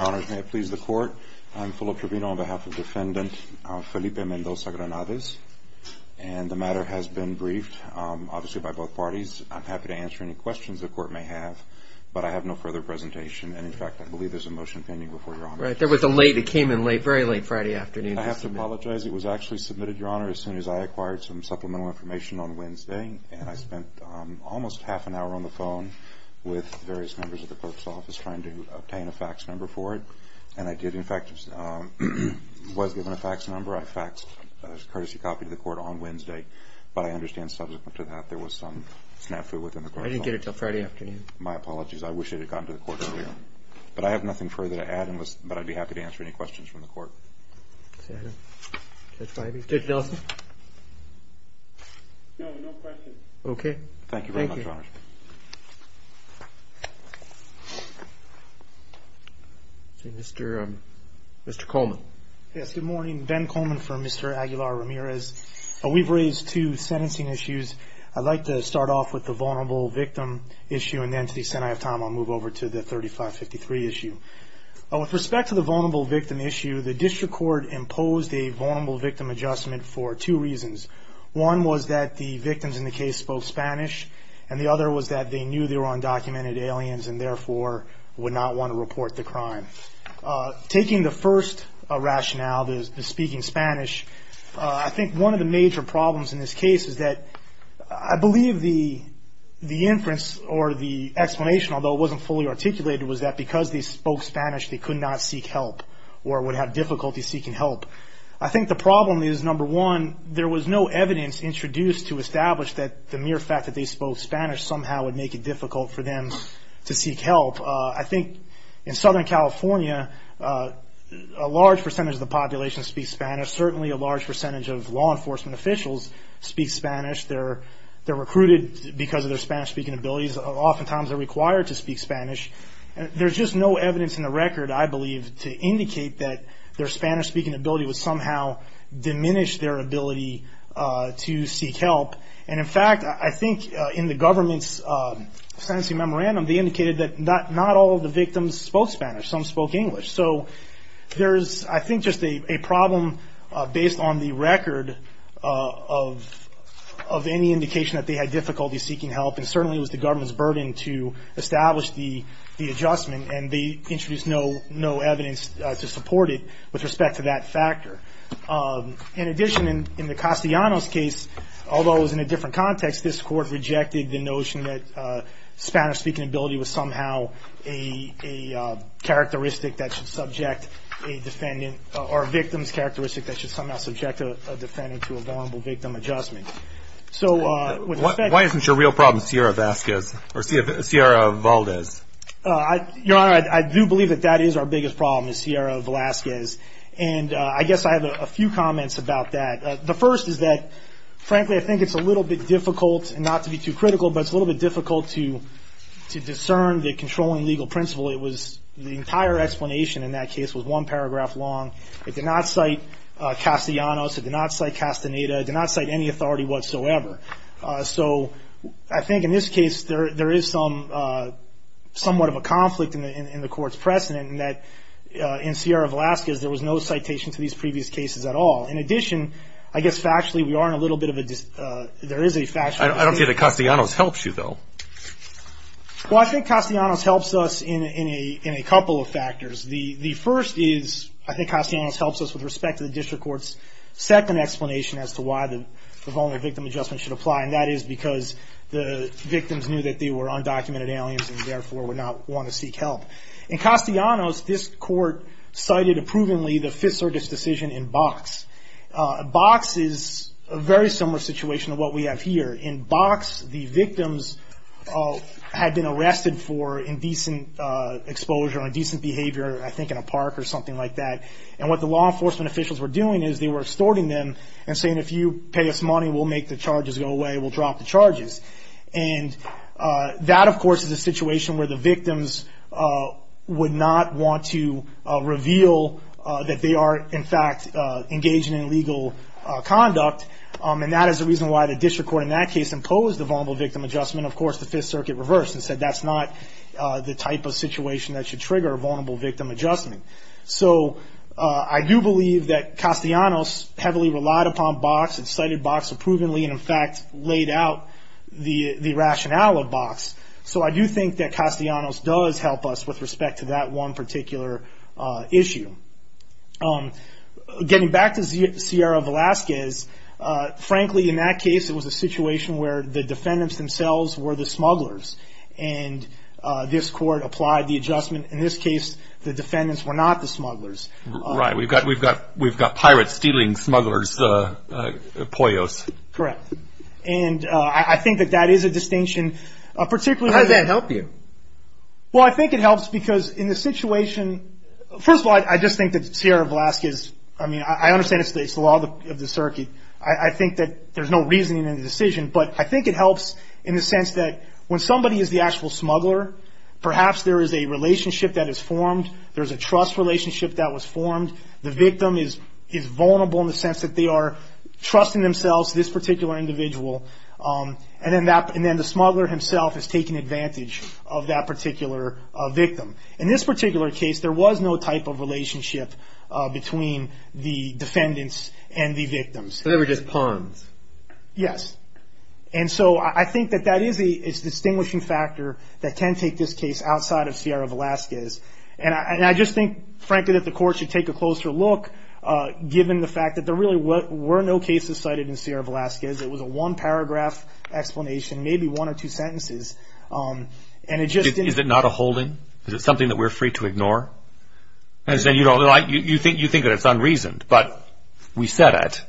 Your Honor, may it please the Court, I'm Fulop Trevino on behalf of Defendant Felipe Mendoza-Granades and the matter has been briefed obviously by both parties. I'm happy to answer any questions the Court may have but I have no further presentation and in fact I believe there's a motion pending before Your Honor. Right, there was a late, it came in late, very late Friday afternoon. I have to apologize, it was actually submitted Your Honor as soon as I acquired some supplemental information on Wednesday and I spent almost half an hour on the phone with various members of the Court's office trying to obtain a fax number for it and I did in fact, was given a fax number. I faxed a courtesy copy to the Court on Wednesday but I understand subsequent to that there was some snafu within the Court. I didn't get it until Friday afternoon. My apologies, I wish it had gotten to the Court earlier. But I have nothing further to add but I'd be happy to answer any questions from the Court. Judge Delson? No, no questions. Okay, thank you. Thank you very much, Your Honor. Mr. Coleman. Yes, good morning. Ben Coleman for Mr. Aguilar Ramirez. We've raised two sentencing issues. I'd like to start off with the vulnerable victim issue and then to the extent I have time I'll move over to the 3553 issue. With respect to the vulnerable victim issue, the District Court imposed a vulnerable victim adjustment for two reasons. One was that the victims in the case spoke Spanish and the other was that they knew they were undocumented aliens and therefore would not want to report the crime. Taking the first rationale, the speaking Spanish, I think one of the major problems in this case is that I believe the inference or the explanation, although it wasn't fully articulated, was that because they spoke Spanish they could not seek help or would have difficulty seeking help. I think the problem is, number one, there was no evidence introduced to establish that the mere fact that they spoke Spanish somehow would make it difficult for them to seek help. I think in Southern California a large percentage of the population speaks Spanish. Certainly a large percentage of law enforcement officials speak Spanish. They're recruited because of their Spanish-speaking abilities. Oftentimes they're required to speak Spanish. There's just no evidence in the record, I believe, to indicate that their Spanish-speaking ability would somehow diminish their ability to seek help. In fact, I think in the government's sentencing memorandum, they indicated that not all of the victims spoke Spanish. Some spoke English. There's, I think, just a problem based on the record of any indication that they had difficulty seeking help and certainly it was the government's burden to establish the adjustment and they introduced no evidence to support it with respect to that factor. In addition, in the Castellanos case, although it was in a different context, this Court rejected the notion that Spanish-speaking ability was somehow a characteristic that should subject a defendant or a victim's characteristic that should somehow subject a defendant to a vulnerable victim adjustment. Why isn't your real problem Sierra Valdez? Your Honor, I do believe that that is our biggest problem is Sierra Valdez. I guess I have a few comments about that. The first is that, frankly, I think it's a little bit difficult, not to be too critical, but it's a little bit difficult to discern the controlling legal principle. The entire explanation in that case was one paragraph long. It did not cite Castellanos. It did not cite Castaneda. It did not cite any authority whatsoever. So I think in this case there is somewhat of a conflict in the Court's precedent in that in Sierra Valdez there was no citation to these previous cases at all. In addition, I guess factually we are in a little bit of a dis- I don't see that Castellanos helps you, though. Well, I think Castellanos helps us in a couple of factors. The first is I think Castellanos helps us with respect to the District Court's second explanation as to why the Voluntary Victim Adjustment should apply, and that is because the victims knew that they were undocumented aliens and therefore would not want to seek help. In Castellanos, this Court cited approvingly the Fifth Circuit's decision in Box. Box is a very similar situation to what we have here. In Box, the victims had been arrested for indecent exposure or indecent behavior, I think in a park or something like that, and what the law enforcement officials were doing is they were extorting them and saying, if you pay us money, we'll make the charges go away, we'll drop the charges. And that, of course, is a situation where the victims would not want to reveal that they are in fact engaged in illegal conduct, and that is the reason why the District Court in that case imposed the Vulnerable Victim Adjustment. Of course, the Fifth Circuit reversed and said that's not the type of situation that should trigger a Vulnerable Victim Adjustment. So I do believe that Castellanos heavily relied upon Box, and cited Box approvingly, and in fact laid out the rationale of Box. So I do think that Castellanos does help us with respect to that one particular issue. Getting back to Sierra Velazquez, frankly, in that case, it was a situation where the defendants themselves were the smugglers, and this Court applied the adjustment. In this case, the defendants were not the smugglers. Right. We've got pirates stealing smugglers' poyos. Correct. And I think that that is a distinction. How does that help you? Well, I think it helps because in the situation, first of all, I just think that Sierra Velazquez, I mean, I understand it's the law of the circuit. I think that there's no reasoning in the decision, but I think it helps in the sense that when somebody is the actual smuggler, perhaps there is a relationship that is formed. There's a trust relationship that was formed. The victim is vulnerable in the sense that they are trusting themselves this particular individual, and then the smuggler himself is taking advantage of that particular victim. In this particular case, there was no type of relationship between the defendants and the victims. So they were just pawns. Yes. And so I think that that is a distinguishing factor that can take this case outside of Sierra Velazquez. And I just think, frankly, that the court should take a closer look, given the fact that there really were no cases cited in Sierra Velazquez. It was a one-paragraph explanation, maybe one or two sentences. Is it not a holding? Is it something that we're free to ignore? You think that it's unreasoned, but we said it.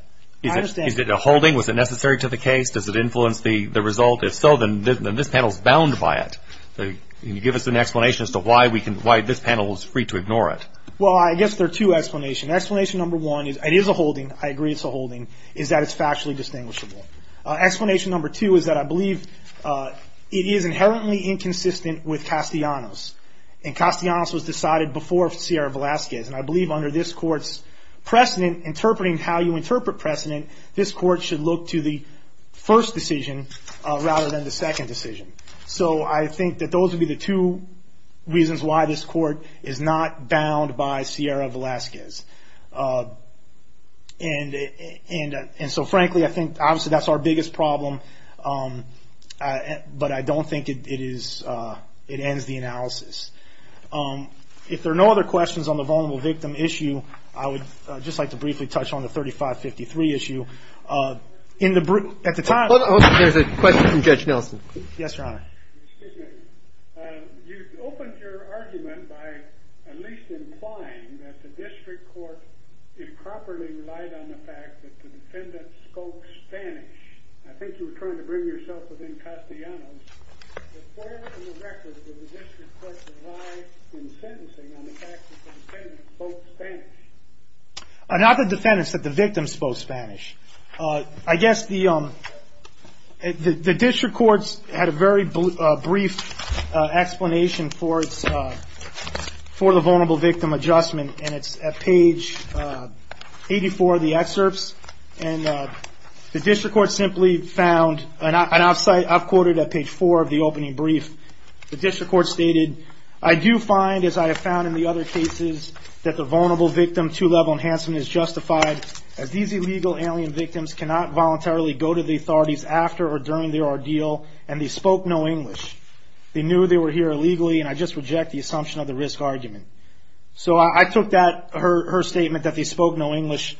I understand. Is it a holding? Was it necessary to the case? Does it influence the result? If so, then this panel is bound by it. Can you give us an explanation as to why this panel is free to ignore it? Well, I guess there are two explanations. Explanation number one is it is a holding. I agree it's a holding, is that it's factually distinguishable. Explanation number two is that I believe it is inherently inconsistent with Castellanos, and Castellanos was decided before Sierra Velazquez. And I believe under this court's precedent, interpreting how you interpret precedent, this court should look to the first decision rather than the second decision. So I think that those would be the two reasons why this court is not bound by Sierra Velazquez. And so, frankly, I think obviously that's our biggest problem, but I don't think it ends the analysis. If there are no other questions on the vulnerable victim issue, I would just like to briefly touch on the 3553 issue. At the time – There's a question from Judge Nelson. Yes, Your Honor. Excuse me. You opened your argument by at least implying that the district court improperly relied on the fact that the defendant spoke Spanish. I think you were trying to bring yourself within Castellanos. But where in the record did the district court rely in sentencing on the fact that the defendant spoke Spanish? Not the defendant, but the victim spoke Spanish. I guess the district courts had a very brief explanation for the vulnerable victim adjustment, and it's at page 84 of the excerpts. And the district court simply found – and I've quoted at page 4 of the opening brief. The district court stated, I do find, as I have found in the other cases, that the vulnerable victim two-level enhancement is justified as these illegal alien victims cannot voluntarily go to the authorities after or during their ordeal, and they spoke no English. They knew they were here illegally, and I just reject the assumption of the risk argument. So I took her statement that they spoke no English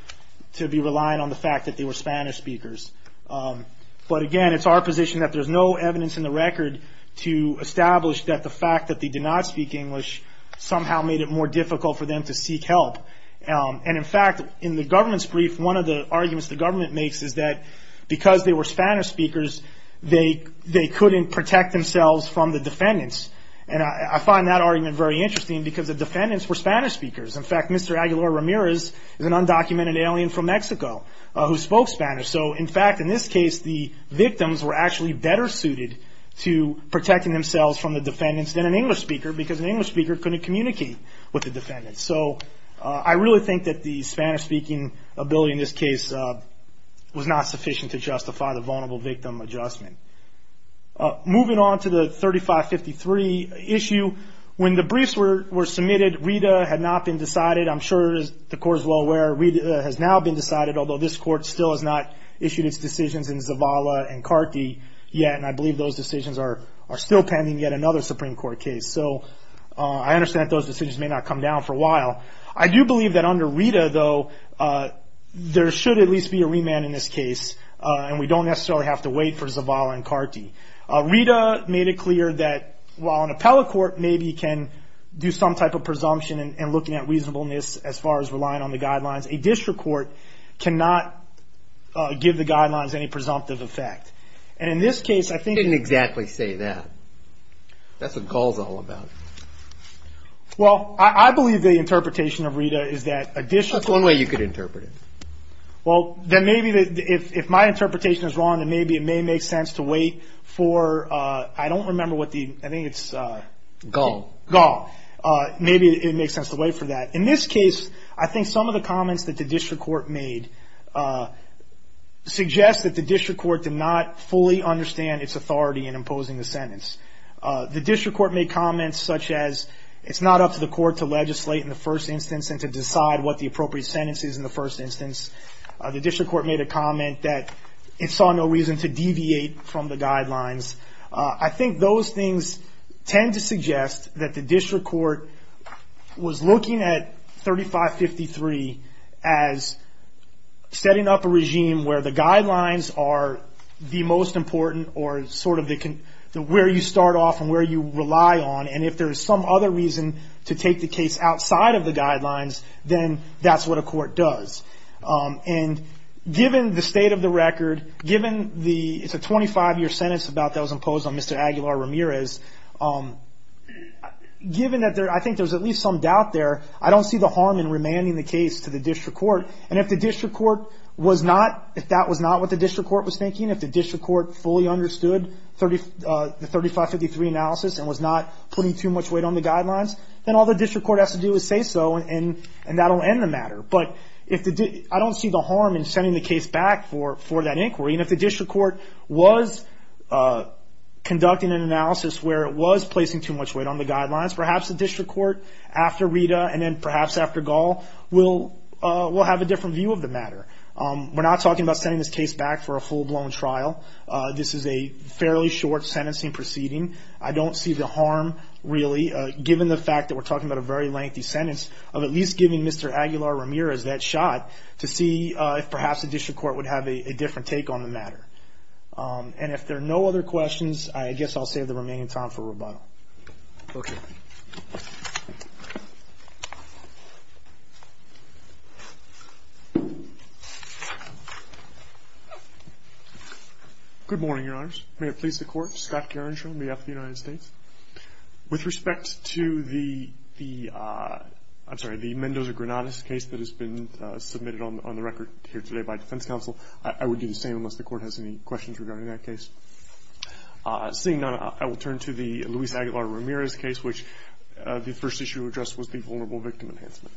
to be reliant on the fact that they were Spanish speakers. But again, it's our position that there's no evidence in the record to establish that the fact that they did not speak English somehow made it more difficult for them to seek help. And in fact, in the government's brief, one of the arguments the government makes is that because they were Spanish speakers, they couldn't protect themselves from the defendants. And I find that argument very interesting because the defendants were Spanish speakers. In fact, Mr. Aguilar Ramirez is an undocumented alien from Mexico who spoke Spanish. So in fact, in this case, the victims were actually better suited to protecting themselves from the defendants than an English speaker because an English speaker couldn't communicate with the defendants. So I really think that the Spanish-speaking ability in this case was not sufficient to justify the vulnerable victim adjustment. Moving on to the 3553 issue, when the briefs were submitted, Rita had not been decided. I'm sure the court is well aware. Rita has now been decided, although this court still has not issued its decisions in Zavala and Carty yet, and I believe those decisions are still pending yet another Supreme Court case. So I understand that those decisions may not come down for a while. I do believe that under Rita, though, there should at least be a remand in this case, and we don't necessarily have to wait for Zavala and Carty. Rita made it clear that while an appellate court maybe can do some type of presumption and looking at reasonableness as far as relying on the guidelines, a district court cannot give the guidelines any presumptive effect. And in this case, I think they didn't exactly say that. That's what the call is all about. Well, I believe the interpretation of Rita is that a district court. That's one way you could interpret it. Well, then maybe if my interpretation is wrong, then maybe it may make sense to wait for, I don't remember what the, I think it's. Gall. Gall. Maybe it makes sense to wait for that. In this case, I think some of the comments that the district court made suggest that the district court did not fully understand its authority in imposing the sentence. The district court made comments such as it's not up to the court to legislate in the first instance and to decide what the appropriate sentence is in the first instance. The district court made a comment that it saw no reason to deviate from the guidelines. I think those things tend to suggest that the district court was looking at 3553 as setting up a regime where the guidelines are the most important or sort of where you start off and where you rely on. And if there's some other reason to take the case outside of the guidelines, then that's what a court does. And given the state of the record, given the, it's a 25-year sentence about that was imposed on Mr. Aguilar Ramirez. Given that there, I think there's at least some doubt there. I don't see the harm in remanding the case to the district court. And if the district court was not, if that was not what the district court was thinking, if the district court fully understood the 3553 analysis and was not putting too much weight on the guidelines, then all the district court has to do is say so and that will end the matter. But I don't see the harm in sending the case back for that inquiry. And if the district court was conducting an analysis where it was placing too much weight on the guidelines, perhaps the district court after Rita and then perhaps after Gall will have a different view of the matter. We're not talking about sending this case back for a full-blown trial. This is a fairly short sentencing proceeding. I don't see the harm really, given the fact that we're talking about a very lengthy sentence, of at least giving Mr. Aguilar Ramirez that shot to see if perhaps the district court would have a different take on the matter. And if there are no other questions, I guess I'll save the remaining time for rebuttal. Okay. Good morning, Your Honors. May it please the Court. Scott Kerenshaw on behalf of the United States. With respect to the Mendoza-Granados case that has been submitted on the record here today by defense counsel, I would do the same unless the Court has any questions regarding that case. Seeing none, I will turn to the Luis Aguilar Ramirez case, which the first issue addressed was the vulnerable victim enhancement.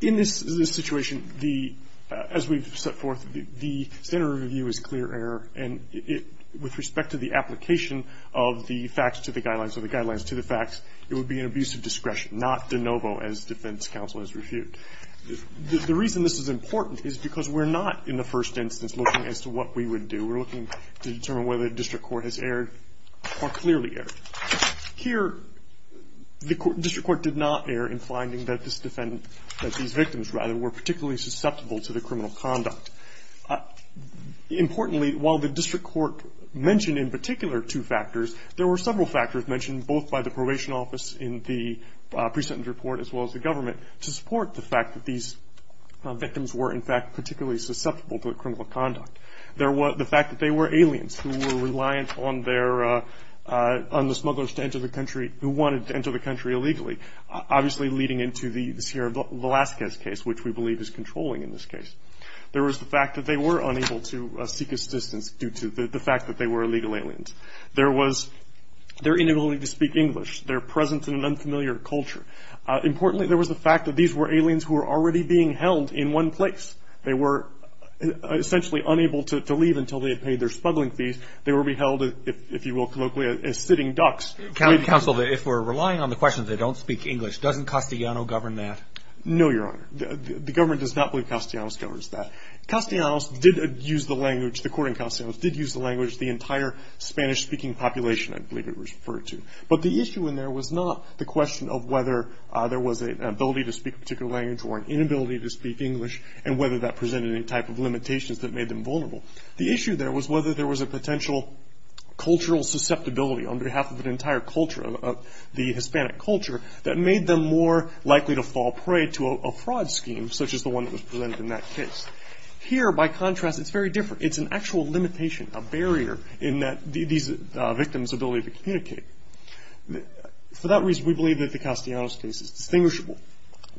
In this situation, as we've set forth, the standard review is clear error, and with respect to the application of the facts to the guidelines or the guidelines to the facts, it would be an abuse of discretion, not de novo, as defense counsel has refuted. The reason this is important is because we're not, in the first instance, looking as to what we would do. We're looking to determine whether the district court has erred or clearly erred. Here, the district court did not err in finding that these victims, rather, were particularly susceptible to the criminal conduct. Importantly, while the district court mentioned in particular two factors, there were several factors mentioned both by the probation office in the pre-sentence report as well as the government to support the fact that these victims were, in fact, particularly susceptible to criminal conduct. The fact that they were aliens who were reliant on the smugglers to enter the country, who wanted to enter the country illegally, obviously leading into the Sierra Velazquez case, which we believe is controlling in this case. There was the fact that they were unable to seek assistance due to the fact that they were illegal aliens. There was their inability to speak English, their presence in an unfamiliar culture. Importantly, there was the fact that these were aliens who were already being held in one place. They were essentially unable to leave until they had paid their smuggling fees. They were being held, if you will colloquially, as sitting ducks. Counsel, if we're relying on the question that they don't speak English, doesn't Castellanos govern that? No, Your Honor. The government does not believe Castellanos governs that. Castellanos did use the language, the court in Castellanos did use the language, the entire Spanish-speaking population, I believe it was referred to. But the issue in there was not the question of whether there was an ability to speak a particular language or an inability to speak English and whether that presented any type of limitations that made them vulnerable. The issue there was whether there was a potential cultural susceptibility on behalf of an entire culture, the Hispanic culture, that made them more likely to fall prey to a fraud scheme, such as the one that was presented in that case. Here, by contrast, it's very different. It's an actual limitation, a barrier in these victims' ability to communicate. For that reason, we believe that the Castellanos case is distinguishable.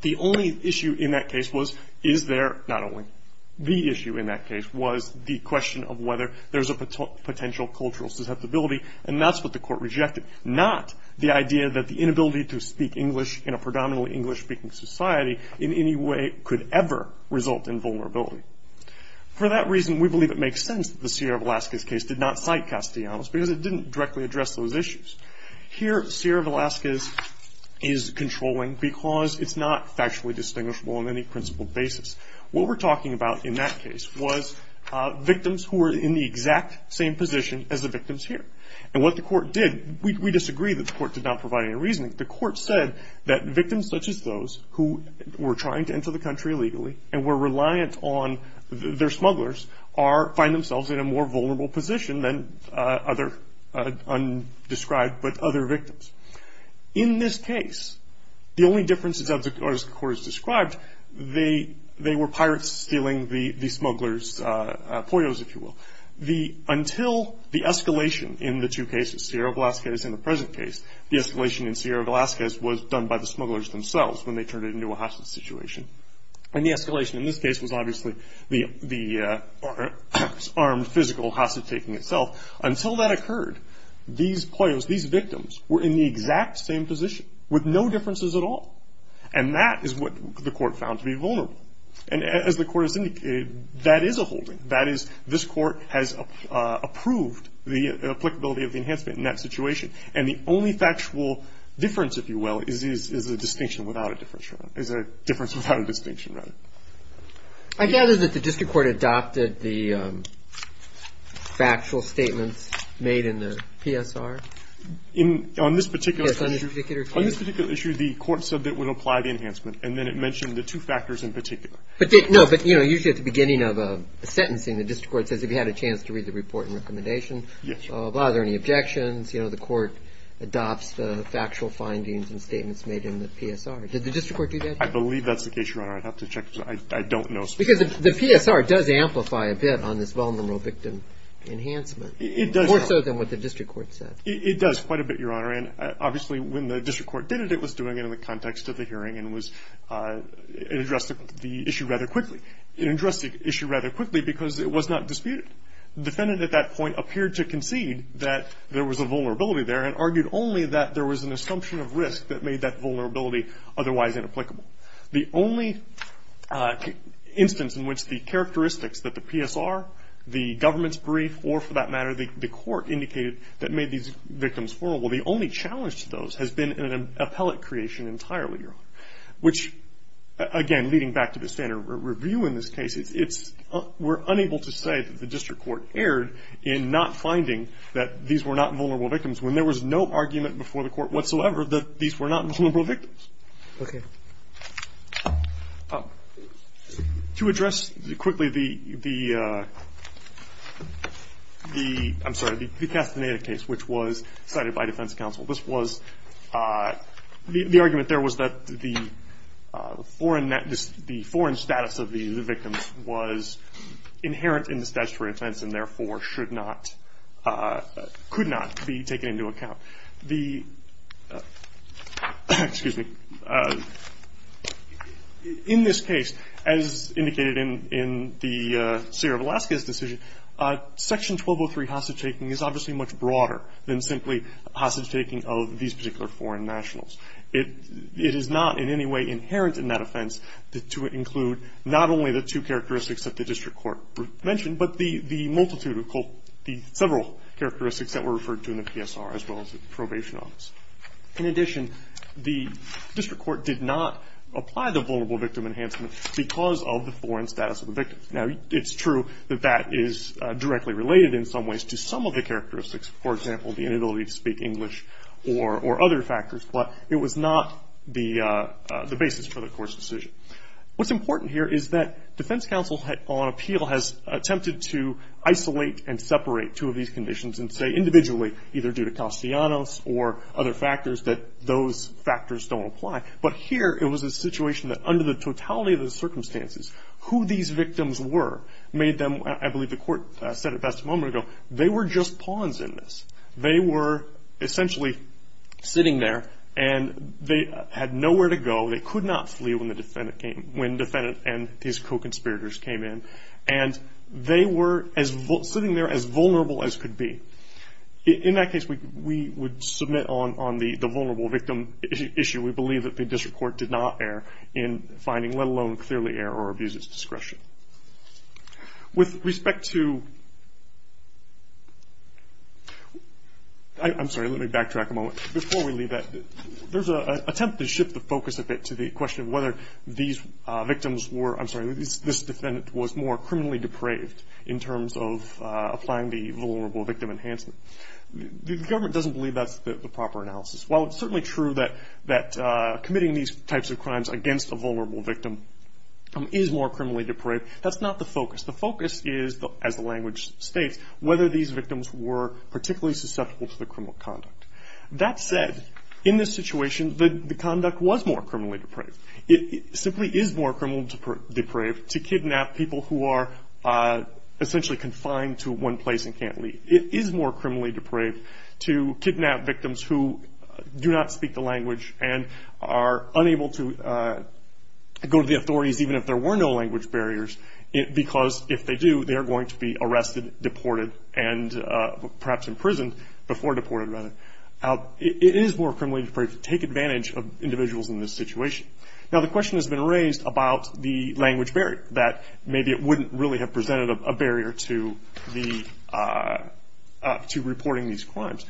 The only issue in that case was, is there not only the issue in that case, was the question of whether there's a potential cultural susceptibility, and that's what the court rejected, not the idea that the inability to speak English in a predominantly English-speaking society in any way could ever result in vulnerability. For that reason, we believe it makes sense that the Sierra Velazquez case did not cite Castellanos because it didn't directly address those issues. Here, Sierra Velazquez is controlling because it's not factually distinguishable on any principled basis. What we're talking about in that case was victims who were in the exact same position as the victims here. And what the court did, we disagree that the court did not provide any reasoning. The court said that victims such as those who were trying to enter the country illegally and were reliant on their smugglers find themselves in a more vulnerable position than other undescribed, but other victims. In this case, the only differences, as the court has described, they were pirates stealing the smugglers' poyos, if you will. Until the escalation in the two cases, Sierra Velazquez and the present case, the escalation in Sierra Velazquez was done by the smugglers themselves when they turned it into a hostage situation. And the escalation in this case was obviously the armed physical hostage taking itself. Until that occurred, these poyos, these victims, were in the exact same position with no differences at all. And that is what the court found to be vulnerable. And as the court has indicated, that is a holding. That is, this court has approved the applicability of the enhancement in that situation. And the only factual difference, if you will, is a distinction without a difference. Is a difference without a distinction, rather. I gather that the district court adopted the factual statements made in the PSR. On this particular issue, the court said that it would apply the enhancement, and then it mentioned the two factors in particular. No, but usually at the beginning of a sentencing, the district court says if you had a chance to read the report and recommendation, are there any objections? The court adopts the factual findings and statements made in the PSR. Did the district court do that? I believe that's the case, Your Honor. I'd have to check. I don't know. Because the PSR does amplify a bit on this vulnerable victim enhancement. It does. More so than what the district court said. It does quite a bit, Your Honor. And obviously when the district court did it, it was doing it in the context of the hearing and addressed the issue rather quickly. It addressed the issue rather quickly because it was not disputed. The defendant at that point appeared to concede that there was a vulnerability there and argued only that there was an assumption of risk that made that vulnerability otherwise inapplicable. The only instance in which the characteristics that the PSR, the government's brief, or for that matter the court indicated that made these victims vulnerable, the only challenge to those has been an appellate creation entirely, Your Honor. Which, again, leading back to the standard review in this case, we're unable to say that the district court erred in not finding that these were not vulnerable victims when there was no argument before the court whatsoever that these were not vulnerable victims. Okay. To address quickly the, I'm sorry, the Castaneda case, which was cited by defense counsel, the argument there was that the foreign status of the victims was inherent in the statutory defense and, therefore, should not, could not be taken into account. The, excuse me, in this case, as indicated in the Seer of Alaska's decision, Section 1203 hostage taking is obviously much broader than simply hostage taking of these particular foreign nationals. It is not in any way inherent in that offense to include not only the two characteristics that the district court mentioned, but the multitude of the several characteristics that were referred to in the PSR as well as the probation office. In addition, the district court did not apply the vulnerable victim enhancement because of the foreign status of the victim. Now, it's true that that is directly related in some ways to some of the characteristics, for example, the inability to speak English or other factors, but it was not the basis for the court's decision. What's important here is that defense counsel on appeal has attempted to isolate and separate two of these conditions and say individually, either due to Castellanos or other factors, that those factors don't apply. But here it was a situation that under the totality of the circumstances, who these victims were made them, I believe the court said it best a moment ago, they were just pawns in this. They were essentially sitting there and they had nowhere to go. They could not flee when the defendant and his co-conspirators came in. And they were sitting there as vulnerable as could be. In that case, we would submit on the vulnerable victim issue. We believe that the district court did not err in finding, let alone clearly err or abuse its discretion. With respect to, I'm sorry, let me backtrack a moment. Before we leave that, there's an attempt to shift the focus a bit to the question of whether these victims were, I'm sorry, this defendant was more criminally depraved in terms of applying the vulnerable victim enhancement. The government doesn't believe that's the proper analysis. While it's certainly true that committing these types of crimes against a vulnerable victim is more criminally depraved, that's not the focus. The focus is, as the language states, whether these victims were particularly susceptible to the criminal conduct. That said, in this situation, the conduct was more criminally depraved. It simply is more criminally depraved to kidnap people who are essentially confined to one place and can't leave. It is more criminally depraved to kidnap victims who do not speak the language and are unable to go to the authorities, even if there were no language barriers, because if they do, they are going to be arrested, deported, and perhaps imprisoned before deported, rather. It is more criminally depraved to take advantage of individuals in this situation. Now, the question has been raised about the language barrier, that maybe it wouldn't really have presented a barrier to reporting these crimes.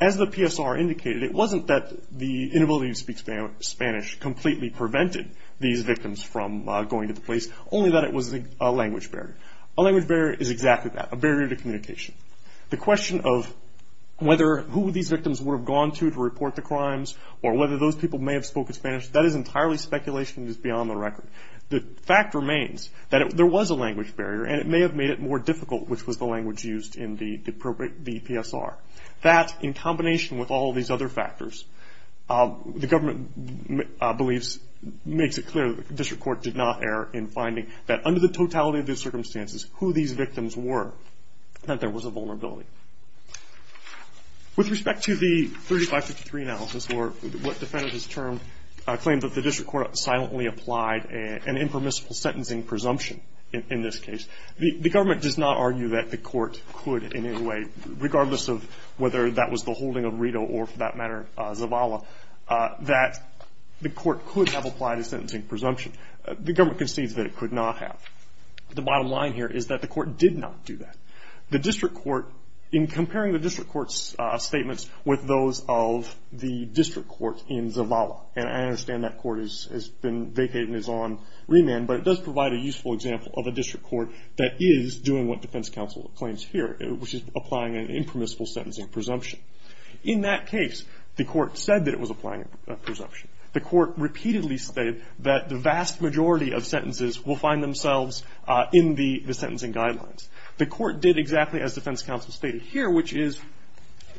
As the PSR indicated, it wasn't that the inability to speak Spanish completely prevented these victims from going to the police, only that it was a language barrier. A language barrier is exactly that, a barrier to communication. The question of whether who these victims would have gone to to report the crimes or whether those people may have spoken Spanish, that is entirely speculation. It is beyond the record. The fact remains that there was a language barrier, and it may have made it more difficult, which was the language used in the PSR. That, in combination with all of these other factors, the government makes it clear that the district court did not err in finding that under the totality of the circumstances, who these victims were, that there was a vulnerability. With respect to the 3553 analysis, or what defenders term, claim that the district court silently applied an impermissible sentencing presumption in this case, the government does not argue that the court could in any way, regardless of whether that was the holding of Rito or, for that matter, Zavala, that the court could have applied a sentencing presumption. The government concedes that it could not have. The bottom line here is that the court did not do that. The district court, in comparing the district court's statements with those of the district court in Zavala, and I understand that court has been vacated and is on remand, but it does provide a useful example of a district court that is doing what defense counsel claims here, which is applying an impermissible sentencing presumption. In that case, the court said that it was applying a presumption. The court repeatedly stated that the vast majority of sentences will find themselves in the sentencing guidelines. The court did exactly as defense counsel stated here, which is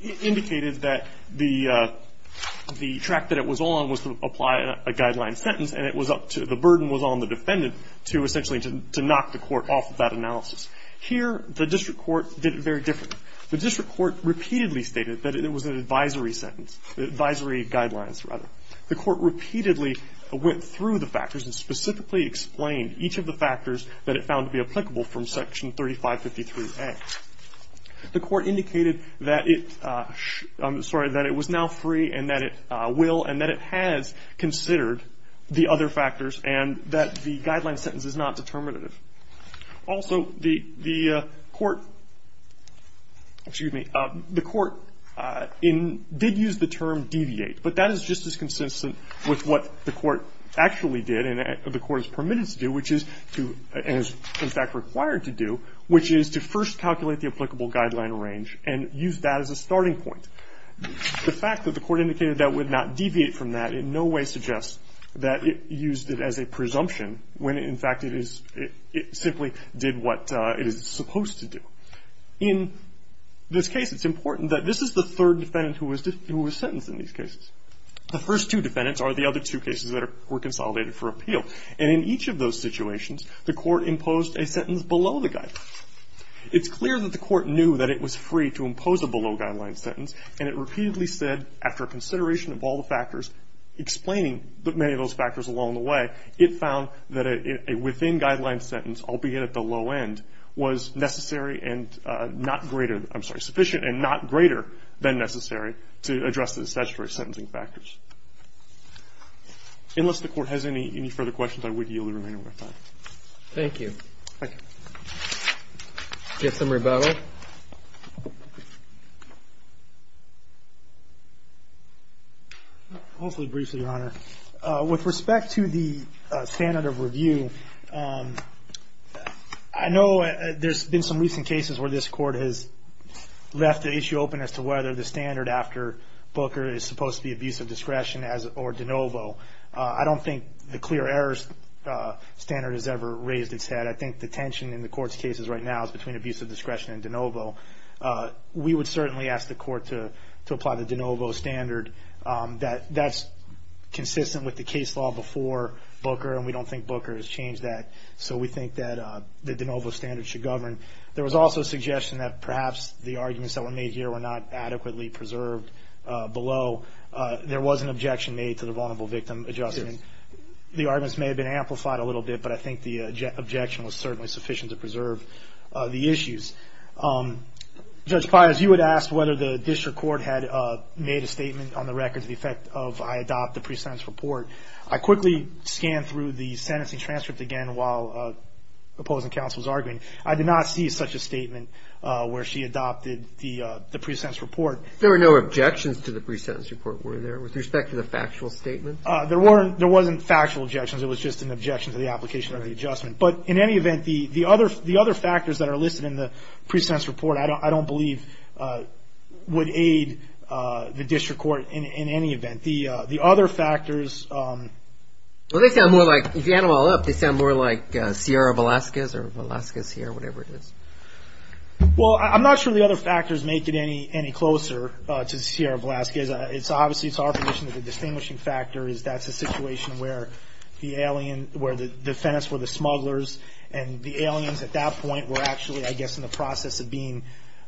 it indicated that the track that it was on was to apply a guideline sentence, and it was up to the burden was on the defendant to essentially to knock the court off of that analysis. Here, the district court did it very differently. The district court repeatedly stated that it was an advisory sentence, advisory guidelines, rather. The court repeatedly went through the factors and specifically explained each of the factors that it found to be applicable from Section 3553A. The court indicated that it was now free and that it will and that it has considered the other factors and that the guideline sentence is not determinative. Also, the court did use the term deviate, but that is just as consistent with what the court actually did and the court is permitted to do, which is to, and is in fact required to do, which is to first calculate the applicable guideline range and use that as a starting point. The fact that the court indicated that it would not deviate from that in no way suggests that it used it as a presumption when, in fact, it is, it simply did what it is supposed to do. In this case, it's important that this is the third defendant who was sentenced in these cases. The first two defendants are the other two cases that were consolidated for appeal. And in each of those situations, the court imposed a sentence below the guideline. It's clear that the court knew that it was free to impose a below-guideline sentence and it repeatedly said, after consideration of all the factors, explaining many of those factors along the way, it found that a within-guideline sentence, albeit at the low end, was necessary and not greater, I'm sorry, sufficient and not greater than necessary to address the statutory sentencing factors. Unless the court has any further questions, I would yield the remaining time. Thank you. Thank you. Get some rebuttal. Hopefully briefly, Your Honor. With respect to the standard of review, I know there's been some recent cases where this is supposed to be abuse of discretion or de novo. I don't think the clear errors standard has ever raised its head. I think the tension in the court's cases right now is between abuse of discretion and de novo. We would certainly ask the court to apply the de novo standard. That's consistent with the case law before Booker, and we don't think Booker has changed that. So we think that the de novo standard should govern. There was also suggestion that perhaps the arguments that were made here were not adequately preserved below. There was an objection made to the vulnerable victim adjustment. The arguments may have been amplified a little bit, but I think the objection was certainly sufficient to preserve the issues. Judge Pires, you had asked whether the district court had made a statement on the record to the effect of, I adopt the pre-sentence report. I quickly scanned through the sentencing transcript again while opposing counsel was arguing. I did not see such a statement where she adopted the pre-sentence report. There were no objections to the pre-sentence report, were there, with respect to the factual statement? There wasn't factual objections. It was just an objection to the application of the adjustment. But in any event, the other factors that are listed in the pre-sentence report, I don't believe would aid the district court in any event. The other factors. Well, they sound more like, if you add them all up, they sound more like Sierra Velazquez or Velazquez here, whatever it is. Well, I'm not sure the other factors make it any closer to Sierra Velazquez. Obviously, it's our position that the distinguishing factor is that's a situation where the defendants were the smugglers, and the aliens at that point were actually, I guess, in the process of being,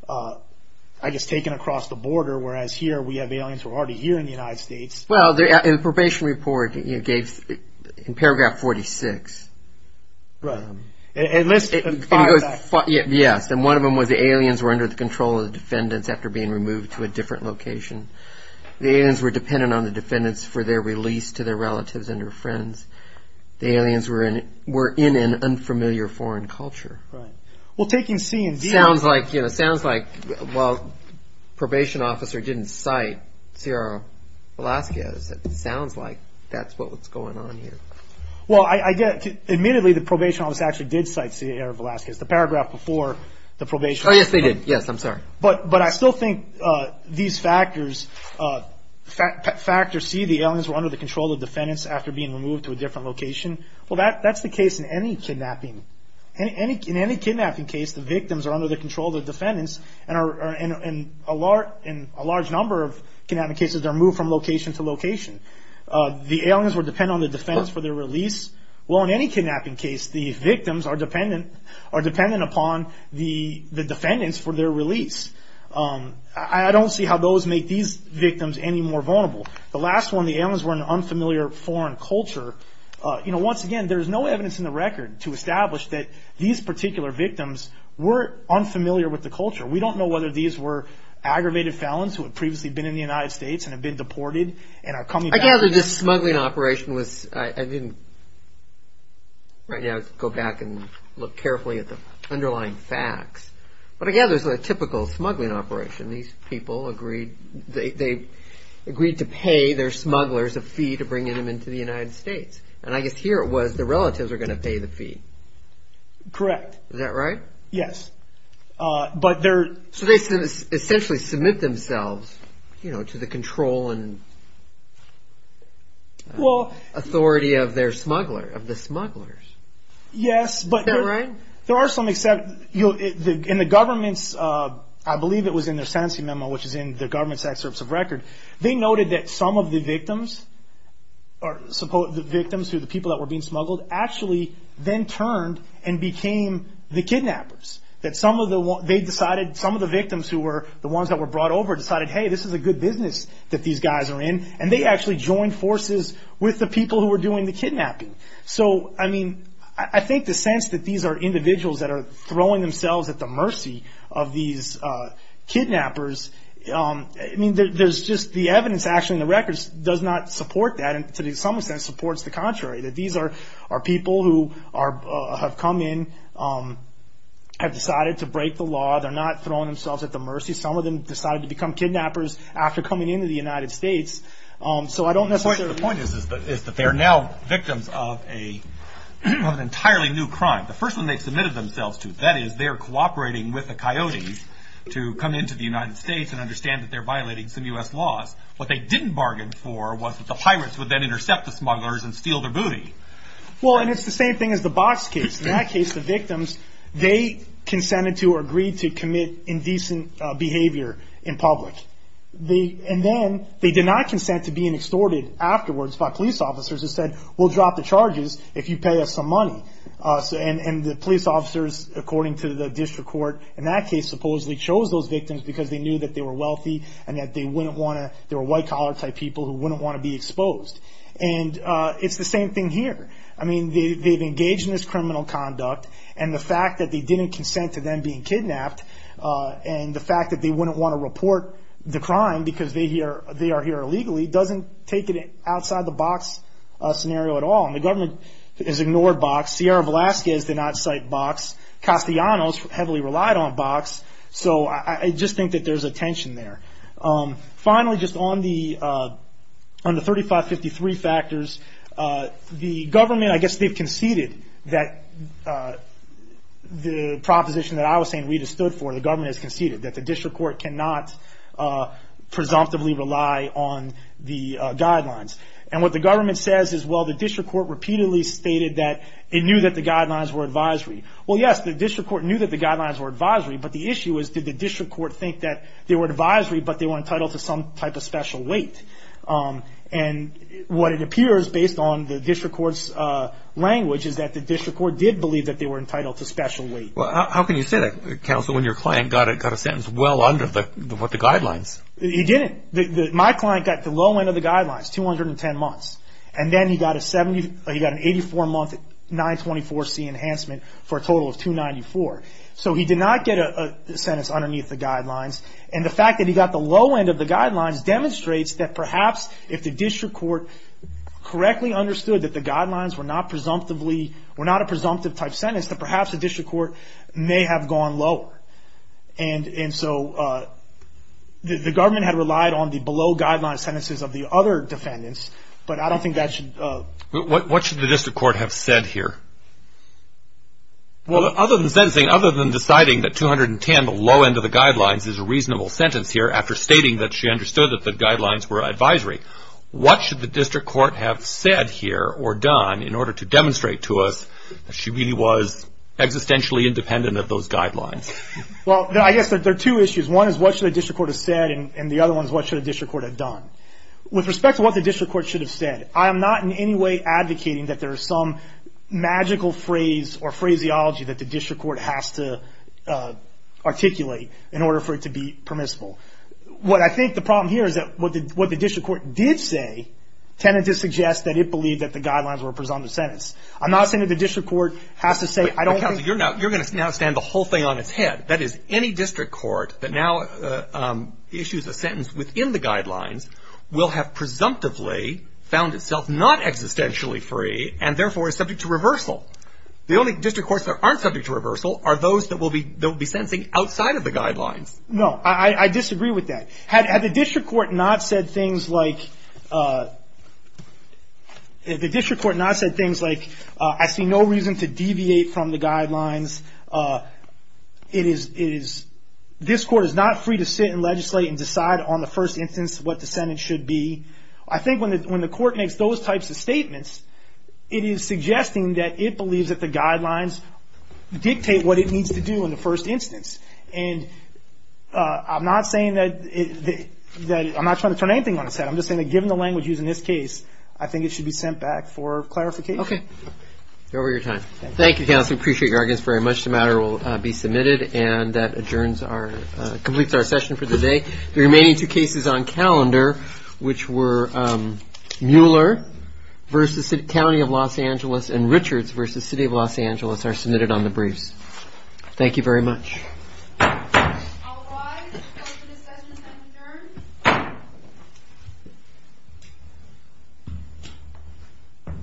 I guess, taken across the border, whereas here we have aliens who are already here in the United States. Well, the probation report gave, in paragraph 46. Right. It lists five facts. Yes. And one of them was the aliens were under the control of the defendants after being removed to a different location. The aliens were dependent on the defendants for their release to their relatives and their friends. The aliens were in an unfamiliar foreign culture. Right. Well, taking C and D off. It sounds like, well, probation officer didn't cite Sierra Velazquez. It sounds like that's what's going on here. Well, admittedly, the probation officer actually did cite Sierra Velazquez. The paragraph before the probation report. Oh, yes, they did. Yes, I'm sorry. But I still think these factors see the aliens were under the control of defendants after being removed to a different location. Well, that's the case in any kidnapping. In any kidnapping case, the victims are under the control of the defendants, and a large number of kidnapping cases are moved from location to location. The aliens were dependent on the defendants for their release. Well, in any kidnapping case, the victims are dependent upon the defendants for their release. I don't see how those make these victims any more vulnerable. The last one, the aliens were in an unfamiliar foreign culture. Once again, there's no evidence in the record to establish that these particular victims were unfamiliar with the culture. We don't know whether these were aggravated felons who had previously been in the United States and had been deported and are coming back. I gather this smuggling operation was – I didn't – right now I can go back and look carefully at the underlying facts. But I gather it was a typical smuggling operation. These people agreed – they agreed to pay their smugglers a fee to bring them into the United States. And I guess here it was the relatives are going to pay the fee. Correct. Is that right? Yes. But there – So they essentially submit themselves, you know, to the control and authority of their smuggler – of the smugglers. Yes, but – Is that right? There are some – in the government's – I believe it was in their sentencing memo, which is in the government's excerpts of record. They noted that some of the victims – the victims who were the people that were being smuggled actually then turned and became the kidnappers. That some of the – they decided – some of the victims who were the ones that were brought over decided, hey, this is a good business that these guys are in. And they actually joined forces with the people who were doing the kidnapping. So, I mean, I think the sense that these are individuals that are throwing themselves at the mercy of these kidnappers – I mean, there's just – the evidence actually in the records does not support that and to some extent supports the contrary, that these are people who have come in, have decided to break the law. They're not throwing themselves at the mercy. Some of them decided to become kidnappers after coming into the United States. So I don't necessarily – My understanding is that they're now victims of an entirely new crime. The first one they've submitted themselves to, that is, they're cooperating with the coyotes to come into the United States and understand that they're violating some U.S. laws. What they didn't bargain for was that the pirates would then intercept the smugglers and steal their booty. Well, and it's the same thing as the Box case. In that case, the victims, they consented to or agreed to commit indecent behavior in public. And then they did not consent to being extorted afterwards by police officers who said, we'll drop the charges if you pay us some money. And the police officers, according to the district court in that case, supposedly chose those victims because they knew that they were wealthy and that they wouldn't want to – they were white-collar type people who wouldn't want to be exposed. And it's the same thing here. I mean, they've engaged in this criminal conduct, and the fact that they didn't consent to them being kidnapped and the fact that they wouldn't want to report the crime because they are here illegally doesn't take it outside the Box scenario at all. And the government has ignored Box. Sierra Velasquez did not cite Box. Castellanos heavily relied on Box. So I just think that there's a tension there. Finally, just on the 3553 factors, the government, I guess they've conceded that the proposition that I was saying Rita stood for, the government has conceded, that the district court cannot presumptively rely on the guidelines. And what the government says is, well, the district court repeatedly stated that it knew that the guidelines were advisory. Well, yes, the district court knew that the guidelines were advisory, but the issue is, did the district court think that they were advisory but they were entitled to some type of special weight? And what it appears, based on the district court's language, is that the district court did believe that they were entitled to special weight. How can you say that, Counsel, when your client got a sentence well under the guidelines? He didn't. My client got the low end of the guidelines, 210 months. And then he got an 84-month 924C enhancement for a total of 294. So he did not get a sentence underneath the guidelines. And the fact that he got the low end of the guidelines demonstrates that perhaps if the district court correctly understood that the guidelines were not a presumptive type sentence, that perhaps the district court may have gone lower. And so the government had relied on the below-guideline sentences of the other defendants, but I don't think that should. What should the district court have said here? Well, other than deciding that 210, the low end of the guidelines, is a reasonable sentence here, after stating that she understood that the guidelines were advisory, what should the district court have said here or done in order to demonstrate to us that she really was existentially independent of those guidelines? Well, I guess there are two issues. One is what should the district court have said, and the other one is what should the district court have done. With respect to what the district court should have said, I am not in any way advocating that there is some magical phrase or phraseology that the district court has to articulate in order for it to be permissible. What I think the problem here is that what the district court did say tended to suggest that it believed that the guidelines were a presumptive sentence. I'm not saying that the district court has to say, I don't think — But, counsel, you're now — you're going to now stand the whole thing on its head. That is, any district court that now issues a sentence within the guidelines will have presumptively found itself not existentially free and, therefore, is subject to reversal. The only district courts that aren't subject to reversal are those that will be — that will be sentencing outside of the guidelines. No. I disagree with that. Had the district court not said things like — had the district court not said things like, I see no reason to deviate from the guidelines, it is — this court is not free to sit and legislate and decide on the first instance what the sentence should be. I think when the court makes those types of statements, it is suggesting that it believes that the guidelines dictate what it needs to do in the first instance. And I'm not saying that it — that I'm not trying to turn anything on its head. I'm just saying that given the language used in this case, I think it should be sent back for clarification. Okay. You're over your time. Thank you. Thank you, counsel. I appreciate your arguments very much. The matter will be submitted, and that adjourns our — completes our session for the day. The remaining two cases on calendar, which were Mueller v. County of Los Angeles and Richards v. City of Los Angeles, are submitted on the briefs. Thank you very much.